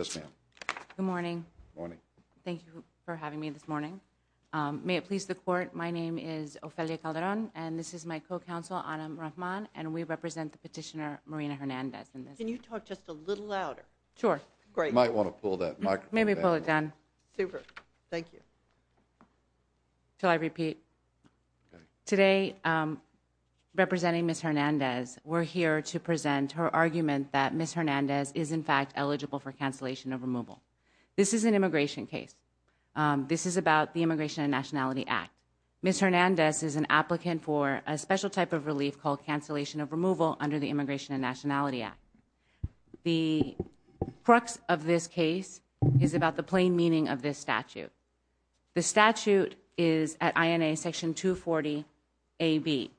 Ophelia Calderon, Co-Counsel, Anna Murakhman, Petitioner Marina Hernandez to present her argument that Ms. Hernandez is in fact eligible for cancellation of removal. This is an immigration case. This is about the Immigration and Nationality Act. Ms. Hernandez is an applicant for a special type of relief called cancellation of removal under the Immigration and Nationality Act. The crux of this case is about the plain meaning of this statute. The statute is at INA Section 240 AB.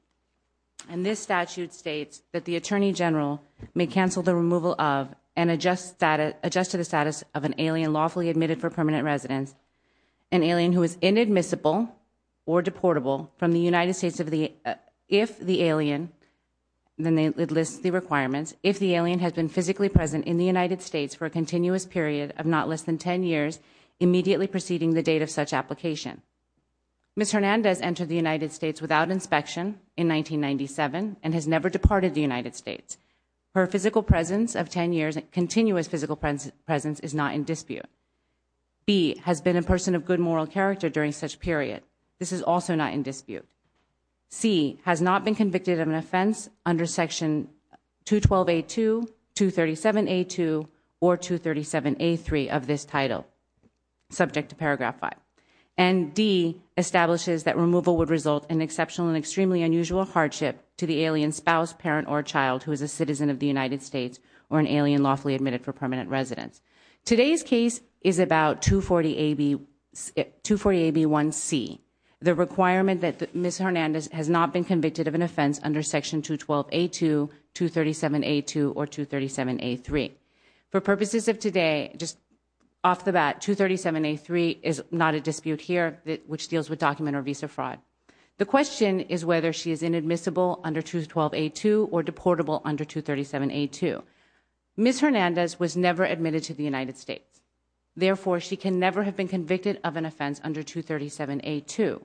And this statute states that the Attorney General may cancel the removal of and adjust to the status of an alien lawfully admitted for permanent residence, an alien who is inadmissible or deportable from the United States if the alien, then it lists the requirements, if the alien has been physically present in the United States for a continuous period of not date of such application. Ms. Hernandez entered the United States without inspection in 1997 and has never departed the United States. Her physical presence of 10 years, continuous physical presence is not in dispute. B has been a person of good moral character during such period. This is also not in dispute. C has not been convicted of an offense under Section 212A2, 237A2, or 237A3 of this title. Subject to Paragraph 5. And D establishes that removal would result in exceptional and extremely unusual hardship to the alien spouse, parent, or child who is a citizen of the United States or an alien lawfully admitted for permanent residence. Today's case is about 240AB1C, the requirement that Ms. Hernandez has not been convicted of an offense under Section 212A2, 237A2, or 237A3. For purposes of today, just off the bat, 237A3 is not a dispute here, which deals with document or visa fraud. The question is whether she is inadmissible under 212A2 or deportable under 237A2. Ms. Hernandez was never admitted to the United States. Therefore, she can never have been convicted of an offense under 237A2.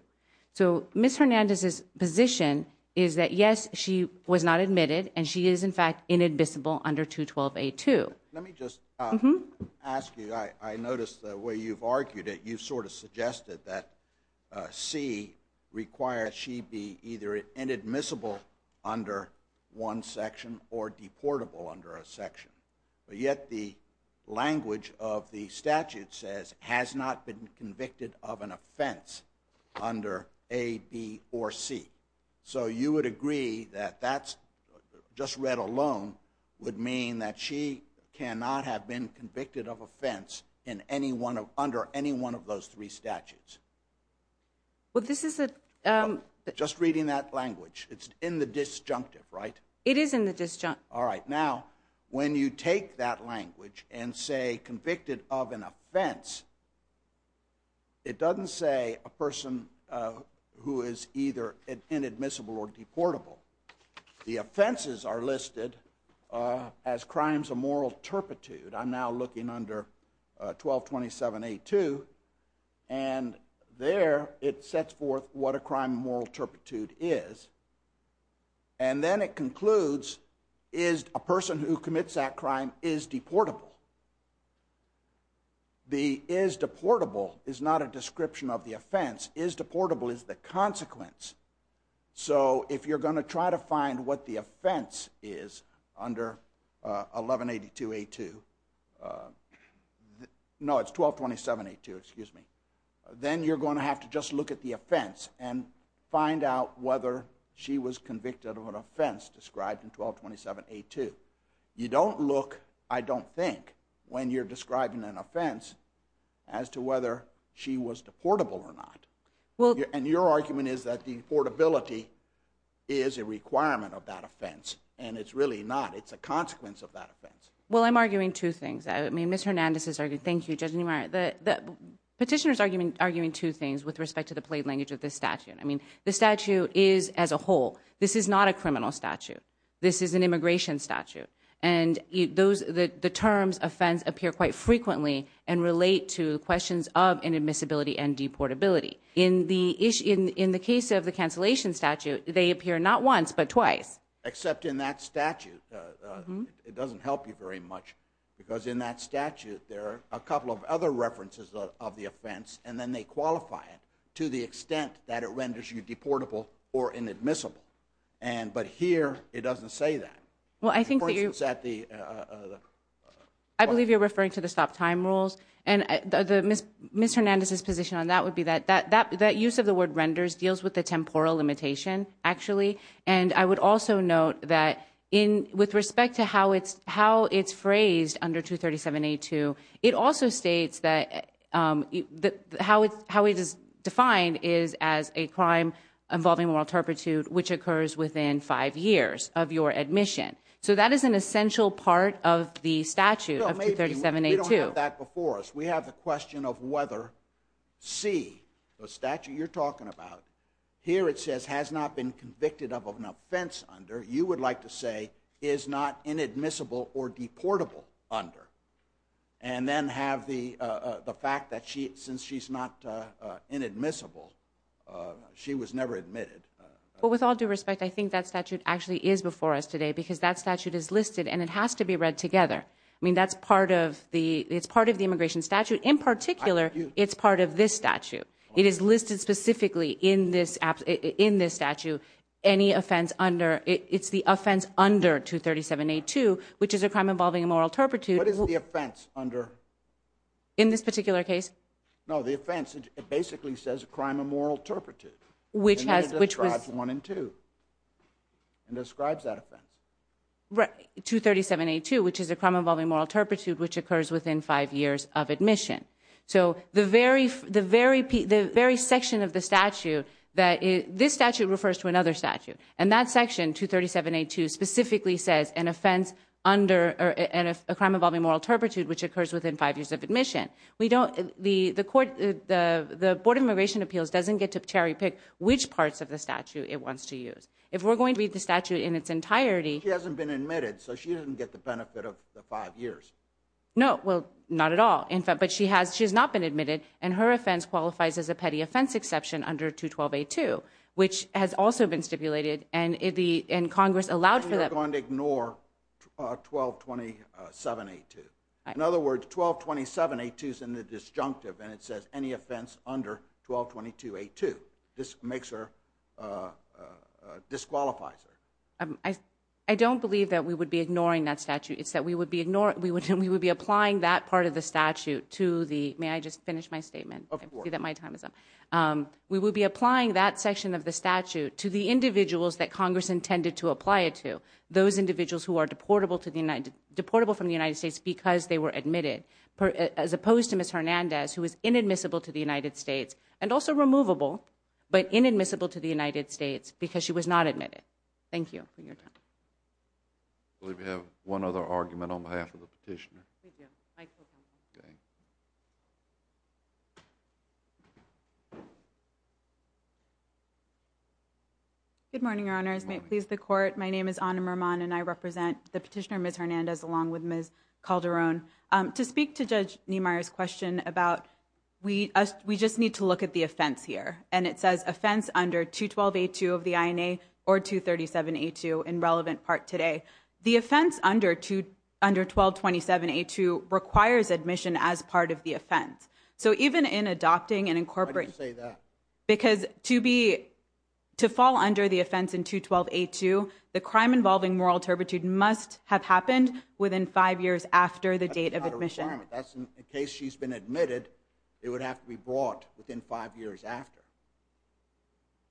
So Ms. Hernandez's position is that yes, she was not admitted, and she is in fact inadmissible under 212A2. Let me just ask you, I noticed the way you've argued it, you've sort of suggested that C requires she be either inadmissible under one section or deportable under a section. But yet the language of the statute says, has not been convicted of an offense under A, B, or C. So you would agree that that's, just read alone, would mean that she cannot have been convicted of offense under any one of those three statutes? Well, this is a... Just reading that language. It's in the disjunctive, right? It is in the disjunctive. All right. Now, when you take that language and say convicted of an offense, it doesn't say a person who is either inadmissible or deportable. The offenses are listed as crimes of moral turpitude. I'm now looking under 1227A2. And there, it sets forth what a crime of moral turpitude is. And then it concludes, is a person who commits that crime is deportable. Is deportable is the consequence. So if you're going to try to find what the offense is under 1182A2, no, it's 1227A2, excuse me. Then you're going to have to just look at the offense and find out whether she was convicted of an offense described in 1227A2. You don't look, I don't think, when you're describing an offense as to whether she was And your argument is that deportability is a requirement of that offense. And it's really not. It's a consequence of that offense. Well, I'm arguing two things. I mean, Ms. Hernandez is arguing, thank you, Judge Niemeyer, the petitioner is arguing two things with respect to the plate language of this statute. I mean, the statute is as a whole, this is not a criminal statute. This is an immigration statute. And the terms offense appear quite frequently and relate to questions of inadmissibility and deportability. In the case of the cancellation statute, they appear not once, but twice. Except in that statute, it doesn't help you very much. Because in that statute, there are a couple of other references of the offense, and then they qualify it to the extent that it renders you deportable or inadmissible. But here, it doesn't say that. Well, I think that you're referring to the stop time rules. And Ms. Hernandez's position on that would be that that use of the word renders deals with the temporal limitation, actually. And I would also note that with respect to how it's phrased under 237A2, it also states that how it is defined is as a crime involving moral turpitude which occurs within five years of your admission. So that is an essential part of the statute of 237A2. We don't have that before us. We have the question of whether C, the statute you're talking about, here it says has not been convicted of an offense under, you would like to say is not inadmissible or deportable under. And then have the fact that since she's not inadmissible, she was never admitted. Well, with all due respect, I think that statute actually is before us today because that statute is listed and it has to be read together. I mean, that's part of the, it's part of the immigration statute. In particular, it's part of this statute. It is listed specifically in this statute. Any offense under, it's the offense under 237A2, which is a crime involving a moral turpitude. What is the offense under? In this particular case? No, the offense, it basically says a crime of moral turpitude. And it describes one and two. And describes that offense. 237A2, which is a crime involving moral turpitude, which occurs within five years of admission. So the very section of the statute, this statute refers to another statute. And that section, 237A2, specifically says an offense under, a crime involving moral turpitude, which occurs within five years of admission. We don't, the court, the Board of Immigration Appeals doesn't get to cherry pick which parts of the statute it wants to use. If we're going to read the statute in its entirety. She hasn't been admitted, so she doesn't get the benefit of the five years. No, well, not at all. In fact, but she has, she has not been admitted, and her offense qualifies as a petty offense exception under 212A2, which has also been stipulated, and the, and Congress allowed for that. And you're going to ignore 1227A2. In other words, 1227A2 is in the disjunctive, and it says any offense under 1222A2. This makes her, disqualifies her. I don't believe that we would be ignoring that statute. It's that we would be ignoring, we would be applying that part of the statute to the, may I just finish my statement? Of course. I see that my time is up. We would be applying that section of the statute to the individuals that Congress intended to apply it to. Those individuals who are deportable to the United, deportable from the United States because they were admitted. As opposed to Ms. Hernandez, who is inadmissible to the United States, and also removable, but inadmissible to the United States because she was not admitted. Thank you for your time. I believe we have one other argument on behalf of the petitioner. We do. Microphone. Okay. Good morning, Your Honors. Good morning. May it please the Court. My name is Ana Mermon, and I represent the petitioner, Ms. Hernandez, along with Ms. Calderon. To speak to Judge Niemeyer's question about, we just need to look at the offense here, and it says offense under 212A2 of the INA, or 237A2 in relevant part today. The offense under 1227A2 requires admission as part of the offense. So even in adopting and incorporating... Why did you say that? Because to be, to fall under the offense in 212A2, the crime involving moral turpitude must have happened within five years after the date of admission. That's not a requirement. That's in case she's been admitted, it would have to be brought within five years after.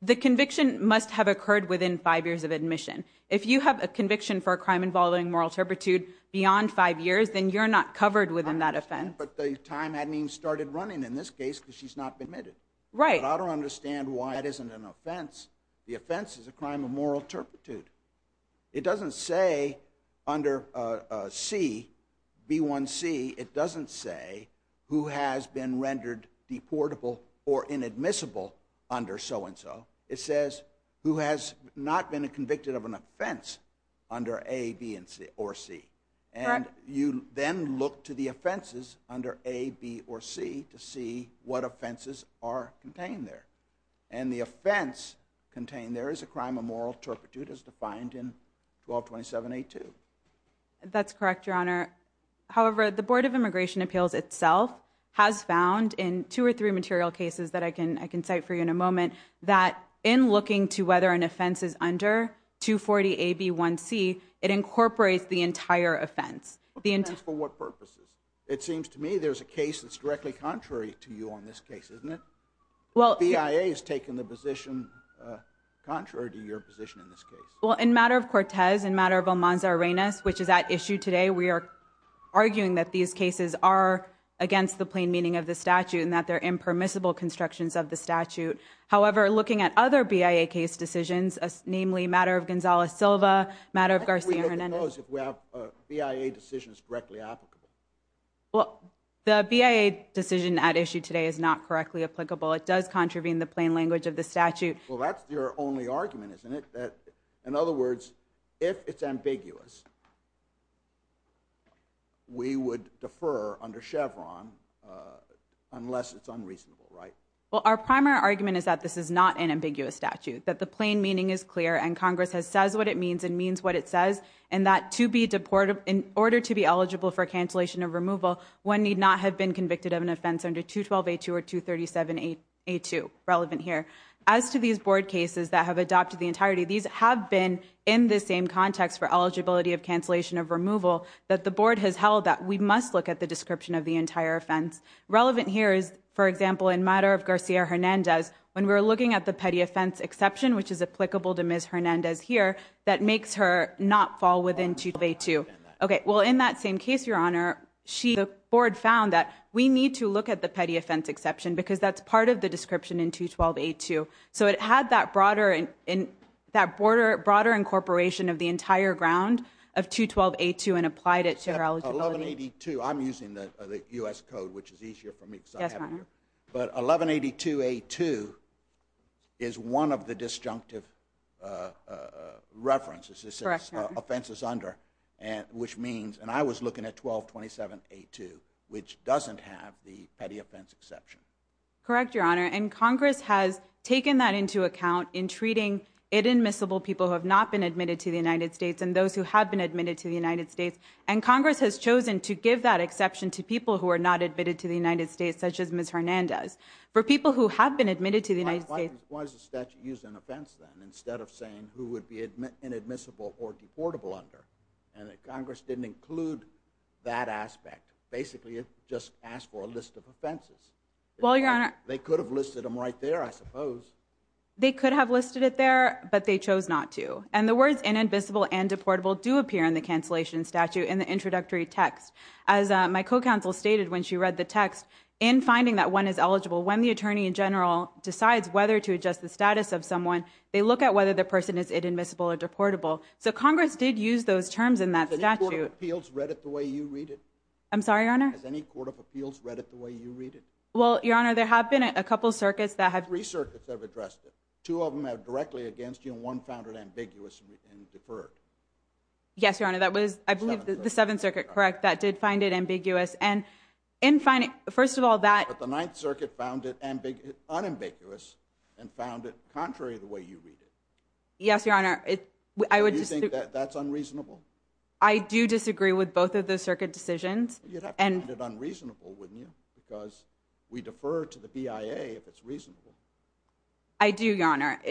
The conviction must have occurred within five years of admission. If you have a conviction for a crime involving moral turpitude beyond five years, then you're not covered within that offense. But the time hadn't even started running in this case because she's not been admitted. Right. But I don't understand why that isn't an offense. The offense is a crime of moral turpitude. It doesn't say under C, B1C, it doesn't say who has been rendered deportable or inadmissible under so-and-so. It says who has not been convicted of an offense under A, B, or C. Correct. And you then look to the offenses under A, B, or C to see what offenses are contained there. And the offense contained there is a crime of moral turpitude as defined in 1227A2. That's correct, Your Honor. However, the Board of Immigration Appeals itself has found in two or three material cases that I can cite for you in a moment, that in looking to whether an offense is under 240A, B, 1C, it incorporates the entire offense. The offense for what purposes? It seems to me there's a case that's directly contrary to you on this case, isn't it? The BIA is taking the position contrary to your position in this case. Well, in matter of Cortez, in matter of Almanza-Arenas, which is at issue today, we are arguing that these cases are against the plain meaning of the statute and that they're impermissible constructions of the statute. However, looking at other BIA case decisions, namely matter of Gonzales-Silva, matter of Garcia-Hernandez. How can we look at those if we have BIA decisions directly applicable? Well, the BIA decision at issue today is not correctly applicable. It does contravene the plain language of the statute. Well, that's your only argument, isn't it? In other words, if it's ambiguous, we would defer under Chevron unless it's unreasonable, right? Well, our primary argument is that this is not an ambiguous statute, that the plain meaning is clear and Congress has says what it means and means what it says, and that to be deported, in order to be eligible for cancellation of removal, one need not have been convicted of an offense under 212A2 or 237A2, relevant here. As to these board cases that have adopted the entirety, these have been in the same context for eligibility of cancellation of removal that the board has held that we must look at the description of the entire offense. Relevant here is, for example, in matter of Garcia-Hernandez, when we're looking at the petty offense exception, which is applicable to Ms. Hernandez here, that makes her not fall within 212A2. Okay. Well, in that same case, Your Honor, the board found that we need to look at the petty offense exception because that's part of the description in 212A2. So it had that broader incorporation of the entire ground of 212A2 and applied it to her eligibility. 1182, I'm using the U.S. code, which is easier for me because I have it here, but 1182A2 is one of the disjunctive references, offenses under, which means, and I was looking at 1227A2, which doesn't have the petty offense exception. Correct, Your Honor. And Congress has taken that into account in treating inadmissible people who have not been admitted to the United States and those who have been admitted to the United States. And Congress has chosen to give that exception to people who are not admitted to the United States, such as Ms. Hernandez. For people who have been admitted to the United States... Why is the statute used in offense then, instead of saying who would be inadmissible or deportable under and that Congress didn't include that aspect, basically it just asked for a list of offenses. Well, Your Honor... They could have listed them right there, I suppose. They could have listed it there, but they chose not to. And the words inadmissible and deportable do appear in the cancellation statute in the introductory text. As my co-counsel stated when she read the text, in finding that one is eligible, when the attorney in general decides whether to adjust the status of someone, they look at whether the person is inadmissible or deportable. So Congress did use those terms in that statute. Has any court of appeals read it the way you read it? I'm sorry, Your Honor? Has any court of appeals read it the way you read it? Well, Your Honor, there have been a couple circuits that have... Three circuits have addressed it. Two of them have directly against you and one found it ambiguous and deferred. Yes, Your Honor, that was, I believe, the Seventh Circuit, correct? That did find it ambiguous and in finding... First of all, that... But the Ninth Circuit found it unambiguous and found it contrary the way you read it. Yes, Your Honor. I would just... Do you think that that's unreasonable? I do disagree with both of those circuit decisions. You'd have to find it unreasonable, wouldn't you? Because we defer to the BIA if it's reasonable. I do, Your Honor.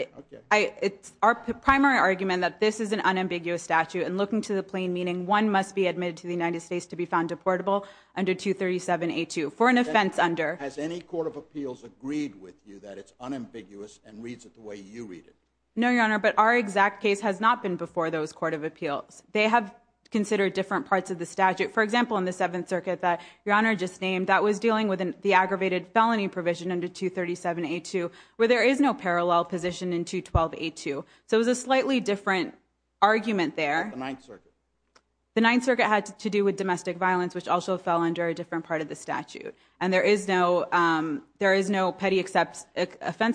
It's our primary argument that this is an unambiguous statute and looking to the plain meaning one must be admitted to the United States to be found deportable under 237A2 for an offense under... Has any court of appeals agreed with you that it's unambiguous and reads it the way you read it? No, Your Honor, but our exact case has not been before those court of appeals. They have considered different parts of the statute. For example, in the Seventh Circuit that Your Honor just named, that was dealing with the aggravated felony provision under 237A2 where there is no parallel position in 212A2. So it was a slightly different argument there. The Ninth Circuit. The Ninth Circuit had to do with domestic violence, which also fell under a different part of the statute. And there is no petty offense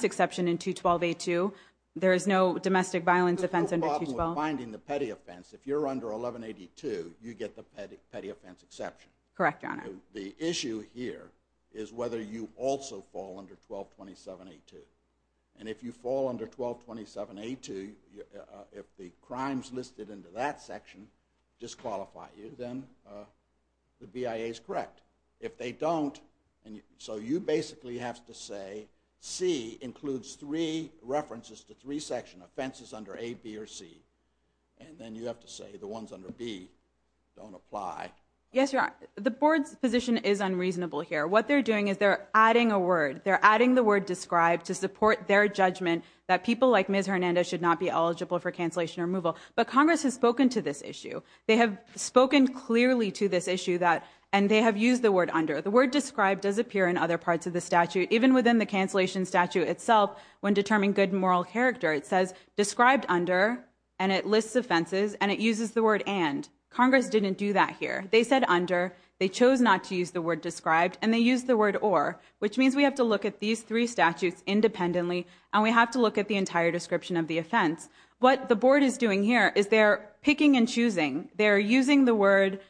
exception in 212A2. There is no domestic violence offense under 212A2. There's no problem with finding the petty offense. If you're under 1182, you get the petty offense exception. Correct, Your Honor. The issue here is whether you also fall under 1227A2. And if you fall under 1227A2, if the crimes listed in that section disqualify you, then the BIA is correct. If they don't, so you basically have to say C includes three references to three section offenses under A, B, or C. And then you have to say the ones under B don't apply. Yes, Your Honor. The board's position is unreasonable here. What they're doing is they're adding a word. They're adding the word described to support their judgment that people like Ms. Hernando should not be eligible for cancellation removal. But Congress has spoken to this issue. They have spoken clearly to this issue. And they have used the word under. The word described does appear in other parts of the statute, even within the cancellation statute itself when determining good moral character. It says described under, and it lists offenses, and it uses the word and. Congress didn't do that here. They said under. They chose not to use the word described. And they used the word or. Which means we have to look at these three statutes independently, and we have to look at the entire description of the offense. What the board is doing here is they're picking and choosing. They're using the word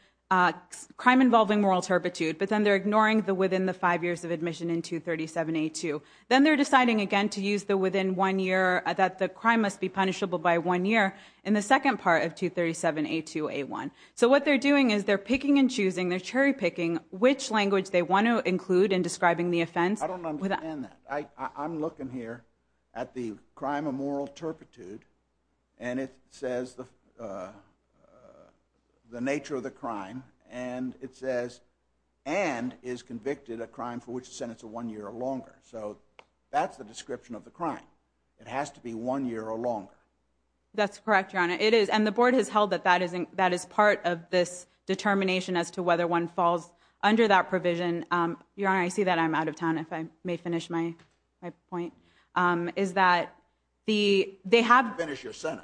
crime involving moral turpitude, but then they're ignoring the within the five years of admission in 237A2. Then they're deciding again to use the within one year that the crime must be punishable by one year in the second part of 237A2A1. So what they're doing is they're picking and choosing, they're cherry picking which language they want to include in describing the offense. I don't understand that. I'm looking here at the crime of moral turpitude, and it says the nature of the crime, and it says and is convicted a crime for which the sentence is one year or longer. So that's the description of the crime. It has to be one year or longer. That's correct, Your Honor. It is. And the board has held that that is part of this determination as to whether one falls under that provision. Your Honor, I see that I'm out of town, if I may finish my point. Is that the, they have,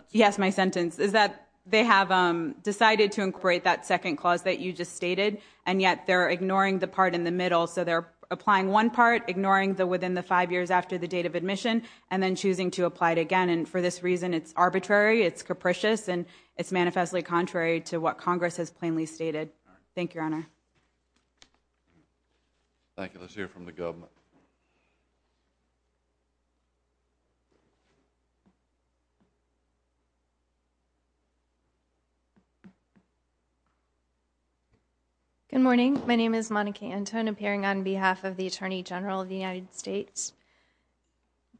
yes, my sentence is that they have decided to incorporate that second clause that you just stated, and yet they're ignoring the part in the middle. So they're applying one part, ignoring the within the five years after the date of admission, and then choosing to apply it again. And for this reason, it's arbitrary, it's capricious, and it's manifestly contrary to what Congress has plainly stated. Go ahead. Thank you, Your Honor. Thank you. Let's hear from the government. Good morning. My name is Monica Anton, appearing on behalf of the Attorney General of the United States.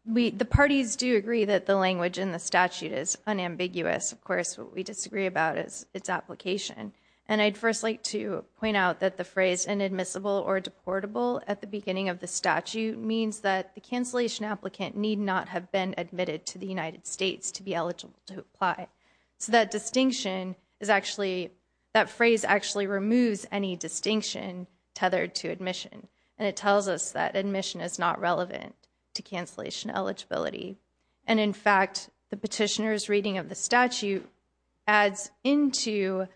The parties do agree that the language in the statute is unambiguous. Of course, what we disagree about is its application. And I'd first like to point out that the phrase inadmissible or deportable at the beginning of the statute means that the cancellation applicant need not have been admitted to the United States to be eligible to apply. So that distinction is actually, that phrase actually removes any distinction tethered to admission. And it tells us that admission is not relevant to cancellation eligibility. And in fact, the petitioner's reading of the statute adds into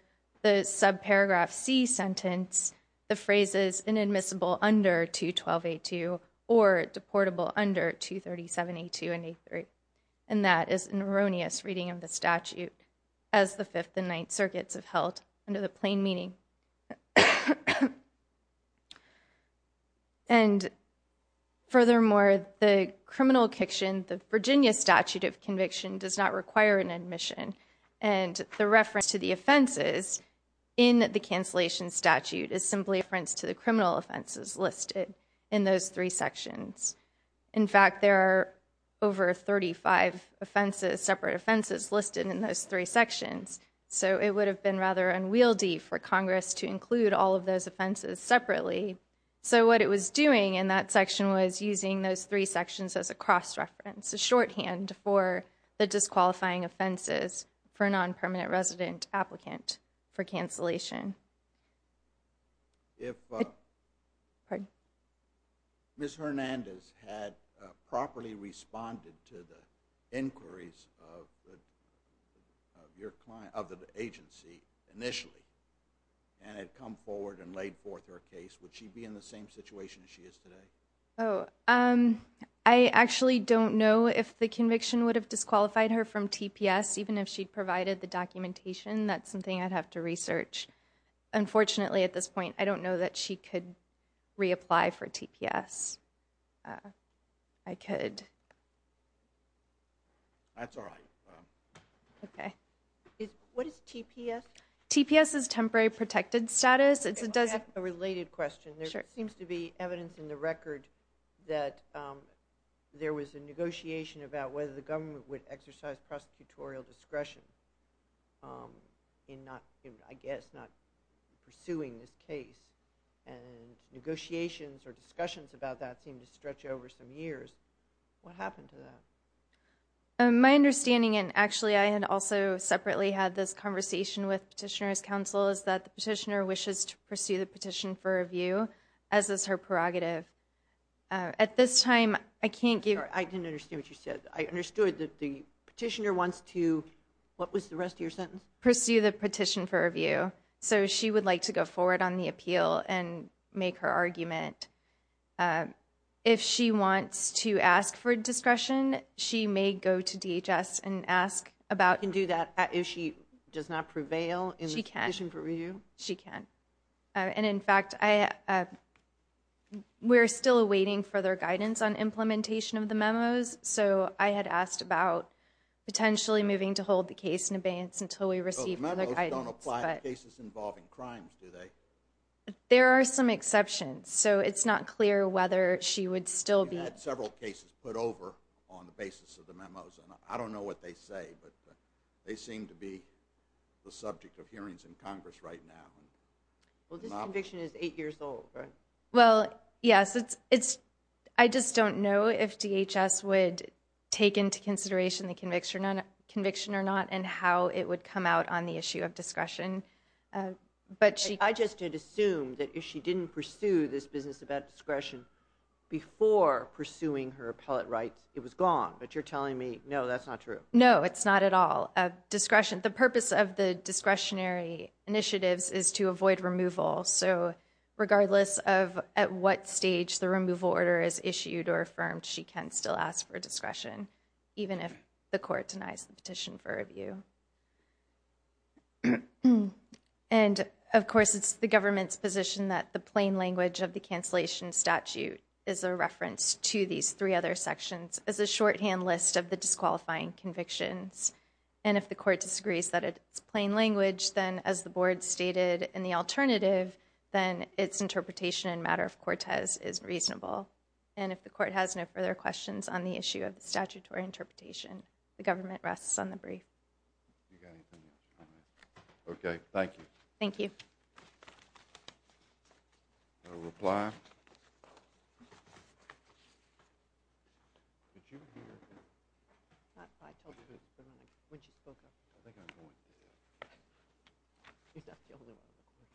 the subparagraph C sentence the phrases inadmissible under 212A2 or deportable under 237A2 and A3. And that is an erroneous reading of the statute, as the Fifth and Ninth Circuits have held under the plain meaning. And furthermore, the criminal conviction, the Virginia statute of conviction does not require an admission. And the reference to the offenses in the cancellation statute is simply a reference to the criminal offenses listed in those three sections. In fact, there are over 35 offenses, separate offenses listed in those three sections. So it would have been rather unwieldy for Congress to include all of those offenses separately. So what it was doing in that section was using those three sections as a cross-reference, a shorthand for the disqualifying offenses for non-permanent resident applicant for cancellation. If Ms. Hernandez had properly responded to the inquiries of the agency initially, and had come forward and laid forth her case, would she be in the same situation as she is today? Oh, I actually don't know if the conviction would have disqualified her from TPS, even if she provided the documentation. That's something I'd have to research. Unfortunately, at this point, I don't know that she could reapply for TPS. I could. That's all right. Okay. What is TPS? TPS is Temporary Protected Status. It does... I have a related question. Sure. There seems to be evidence in the record that there was a negotiation about whether the government would exercise prosecutorial discretion. I guess, not pursuing this case, and negotiations or discussions about that seem to stretch over some years. What happened to that? My understanding, and actually, I had also separately had this conversation with Petitioner's Counsel, is that the petitioner wishes to pursue the petition for review, as is her prerogative. At this time, I can't give... I didn't understand what you said. I understood that the petitioner wants to... What was the rest of your sentence? Pursue the petition for review. She would like to go forward on the appeal and make her argument. If she wants to ask for discretion, she may go to DHS and ask about... She can do that if she does not prevail in the petition for review? She can. She can. In fact, we're still awaiting further guidance on implementation of the memos. I had asked about potentially moving to hold the case in abeyance until we receive further guidance. The memos don't apply to cases involving crimes, do they? There are some exceptions. It's not clear whether she would still be... We've had several cases put over on the basis of the memos. I don't know what they say, but they seem to be the subject of hearings in Congress right now. This conviction is eight years old, right? Well, yes. I just don't know if DHS would take into consideration the conviction or not and how it would come out on the issue of discretion. I just did assume that if she didn't pursue this business about discretion before pursuing her appellate rights, it was gone, but you're telling me, no, that's not true. No, it's not at all. The purpose of the discretionary initiatives is to avoid removal. So regardless of at what stage the removal order is issued or affirmed, she can still ask for discretion, even if the court denies the petition for review. And of course, it's the government's position that the plain language of the cancellation statute is a reference to these three other sections as a shorthand list of the disqualifying convictions. And if the court disagrees that it's plain language, then as the board stated in the alternative, then its interpretation in matter of Cortez is reasonable. And if the court has no further questions on the issue of the statutory interpretation, the government rests on the brief. Okay. Thank you. Thank you.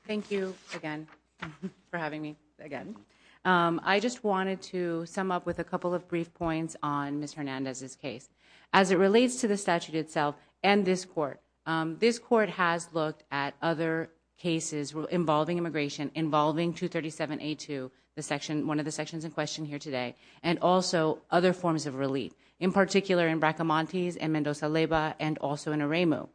Thank you again for having me again. I just wanted to sum up with a couple of brief points on Ms. Hernandez's case. As it relates to the statute itself and this court, this court has looked at other cases involving immigration, involving 237A2, one of the sections in question here today, and also other forms of relief, in particular in Bracamontes and Mendoza-Leyva and also in Aremu.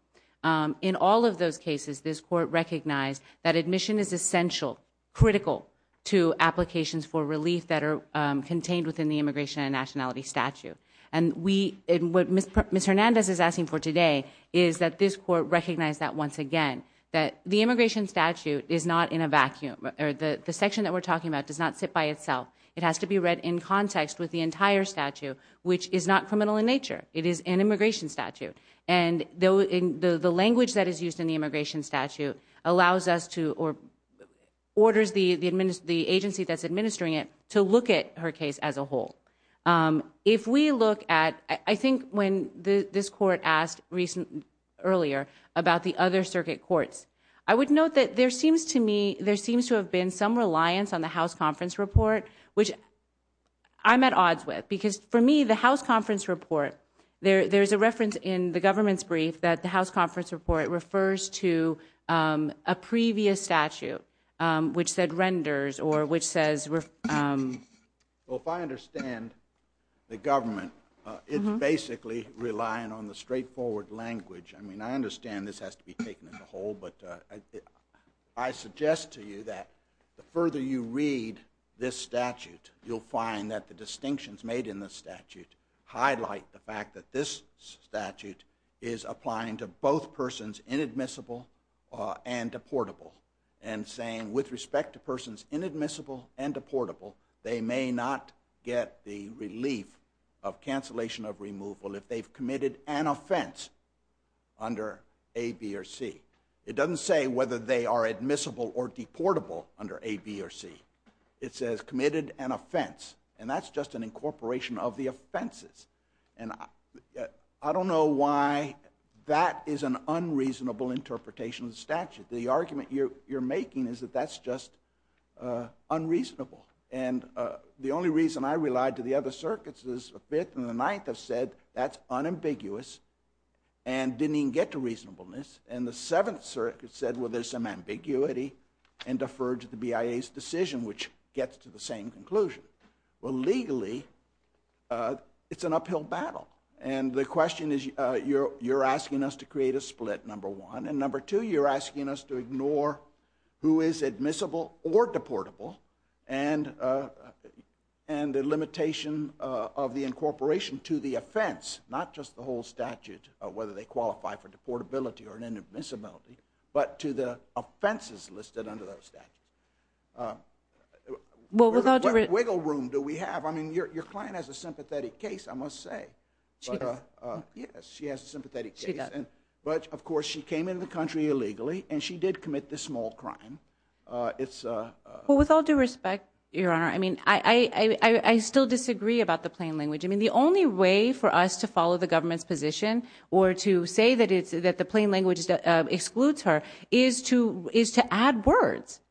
In all of those cases, this court recognized that admission is essential, critical to applications for relief that are contained within the immigration and nationality statute. And what Ms. Hernandez is asking for today is that this court recognize that once again, that the immigration statute is not in a vacuum, or the section that we're talking about does not sit by itself. It has to be read in context with the entire statute, which is not criminal in nature. It is an immigration statute. And the language that is used in the immigration statute allows us to, or orders the agency that's administering it to look at her case as a whole. If we look at, I think when this court asked earlier about the other circuit courts, I would note that there seems to me, there seems to have been some reliance on the House Conference Report, which I'm at odds with. Because for me, the House Conference Report, there's a reference in the government's brief that the House Conference Report refers to a previous statute, which said renders or which says... Well, if I understand the government, it's basically relying on the straightforward language. I mean, I understand this has to be taken as a whole, but I suggest to you that the further you read this statute, you'll find that the distinctions made in the statute highlight the fact that this statute is applying to both persons inadmissible and deportable. And saying with respect to persons inadmissible and deportable, they may not get the relief of cancellation of removal if they've committed an offense under A, B, or C. It doesn't say whether they are admissible or deportable under A, B, or C. It says committed an offense. And that's just an incorporation of the offenses. And I don't know why that is an unreasonable interpretation of the statute. The argument you're making is that that's just unreasonable. And the only reason I relied to the other circuits is the Fifth and the Ninth have said that's unambiguous and didn't even get to reasonableness. And the Seventh Circuit said, well, there's some ambiguity and deferred to the BIA's decision, which gets to the same conclusion. Well, legally, it's an uphill battle. And the question is, you're asking us to create a split, number one. And number two, you're asking us to ignore who is admissible or deportable and the limitation of the incorporation to the offense, not just the whole statute, whether they qualify for deportability or inadmissibility, but to the offenses listed under those statutes. What wiggle room do we have? I mean, your client has a sympathetic case, I must say. She does. Yes, she has a sympathetic case. But, of course, she came into the country illegally and she did commit this small crime. Well, with all due respect, Your Honor, I mean, I still disagree about the plain language. I mean, the only way for us to follow the government's position or to say that the plain language excludes her is to add words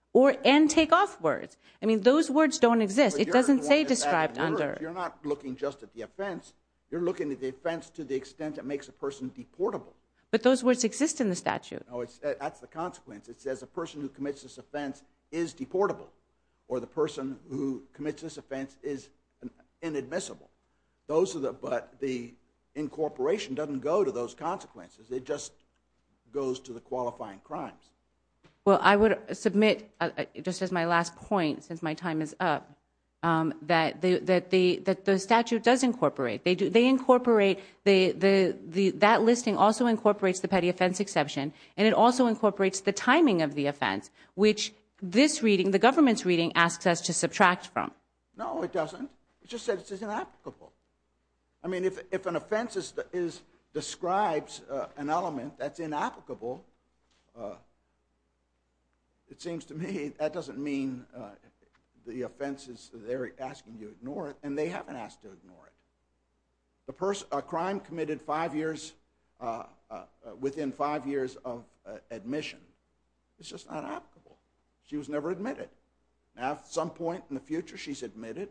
and take off words. I mean, those words don't exist. It doesn't say described under. You're not looking just at the offense. You're looking at the offense to the extent it makes a person deportable. But those words exist in the statute. No, that's the consequence. It says a person who commits this offense is deportable or the person who commits this offense is inadmissible. Those are the, but the incorporation doesn't go to those consequences. It just goes to the qualifying crimes. Well, I would submit, just as my last point, since my time is up, that the statute does incorporate. They incorporate, that listing also incorporates the petty offense exception and it also incorporates the timing of the offense, which this reading, the government's reading, asks us to subtract from. No, it doesn't. It just says it's inapplicable. I mean, if an offense describes an element that's inapplicable, it seems to me that doesn't mean the offense is there asking you to ignore it and they haven't asked to ignore it. The person, a crime committed five years, within five years of admission, it's just not applicable. She was never admitted. Now, at some point in the future, she's admitted,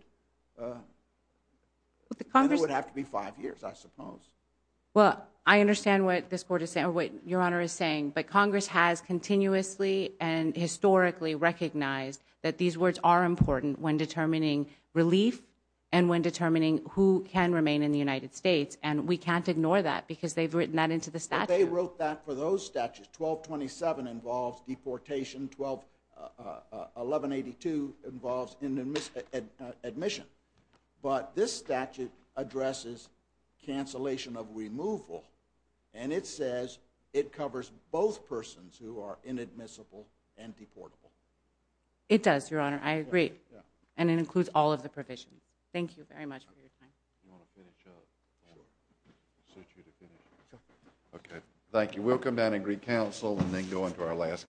but it would have to be five years, I suppose. Well, I understand what this Court is saying, what Your Honor is saying, but Congress has continuously and historically recognized that these words are important when determining relief and when determining who can remain in the United States and we can't ignore that because they've written that into the statute. But they wrote that for those statutes, 1227 involves deportation, 1182 involves admission, but this statute addresses cancellation of removal and it says it covers both persons who are inadmissible and deportable. It does, Your Honor. I agree. And it includes all of the provisions. Thank you very much for your time. Do you want to finish up? Sure. Suit you to finish. Sure. Okay. Thank you. We'll come down and greet counsel and then go into our last.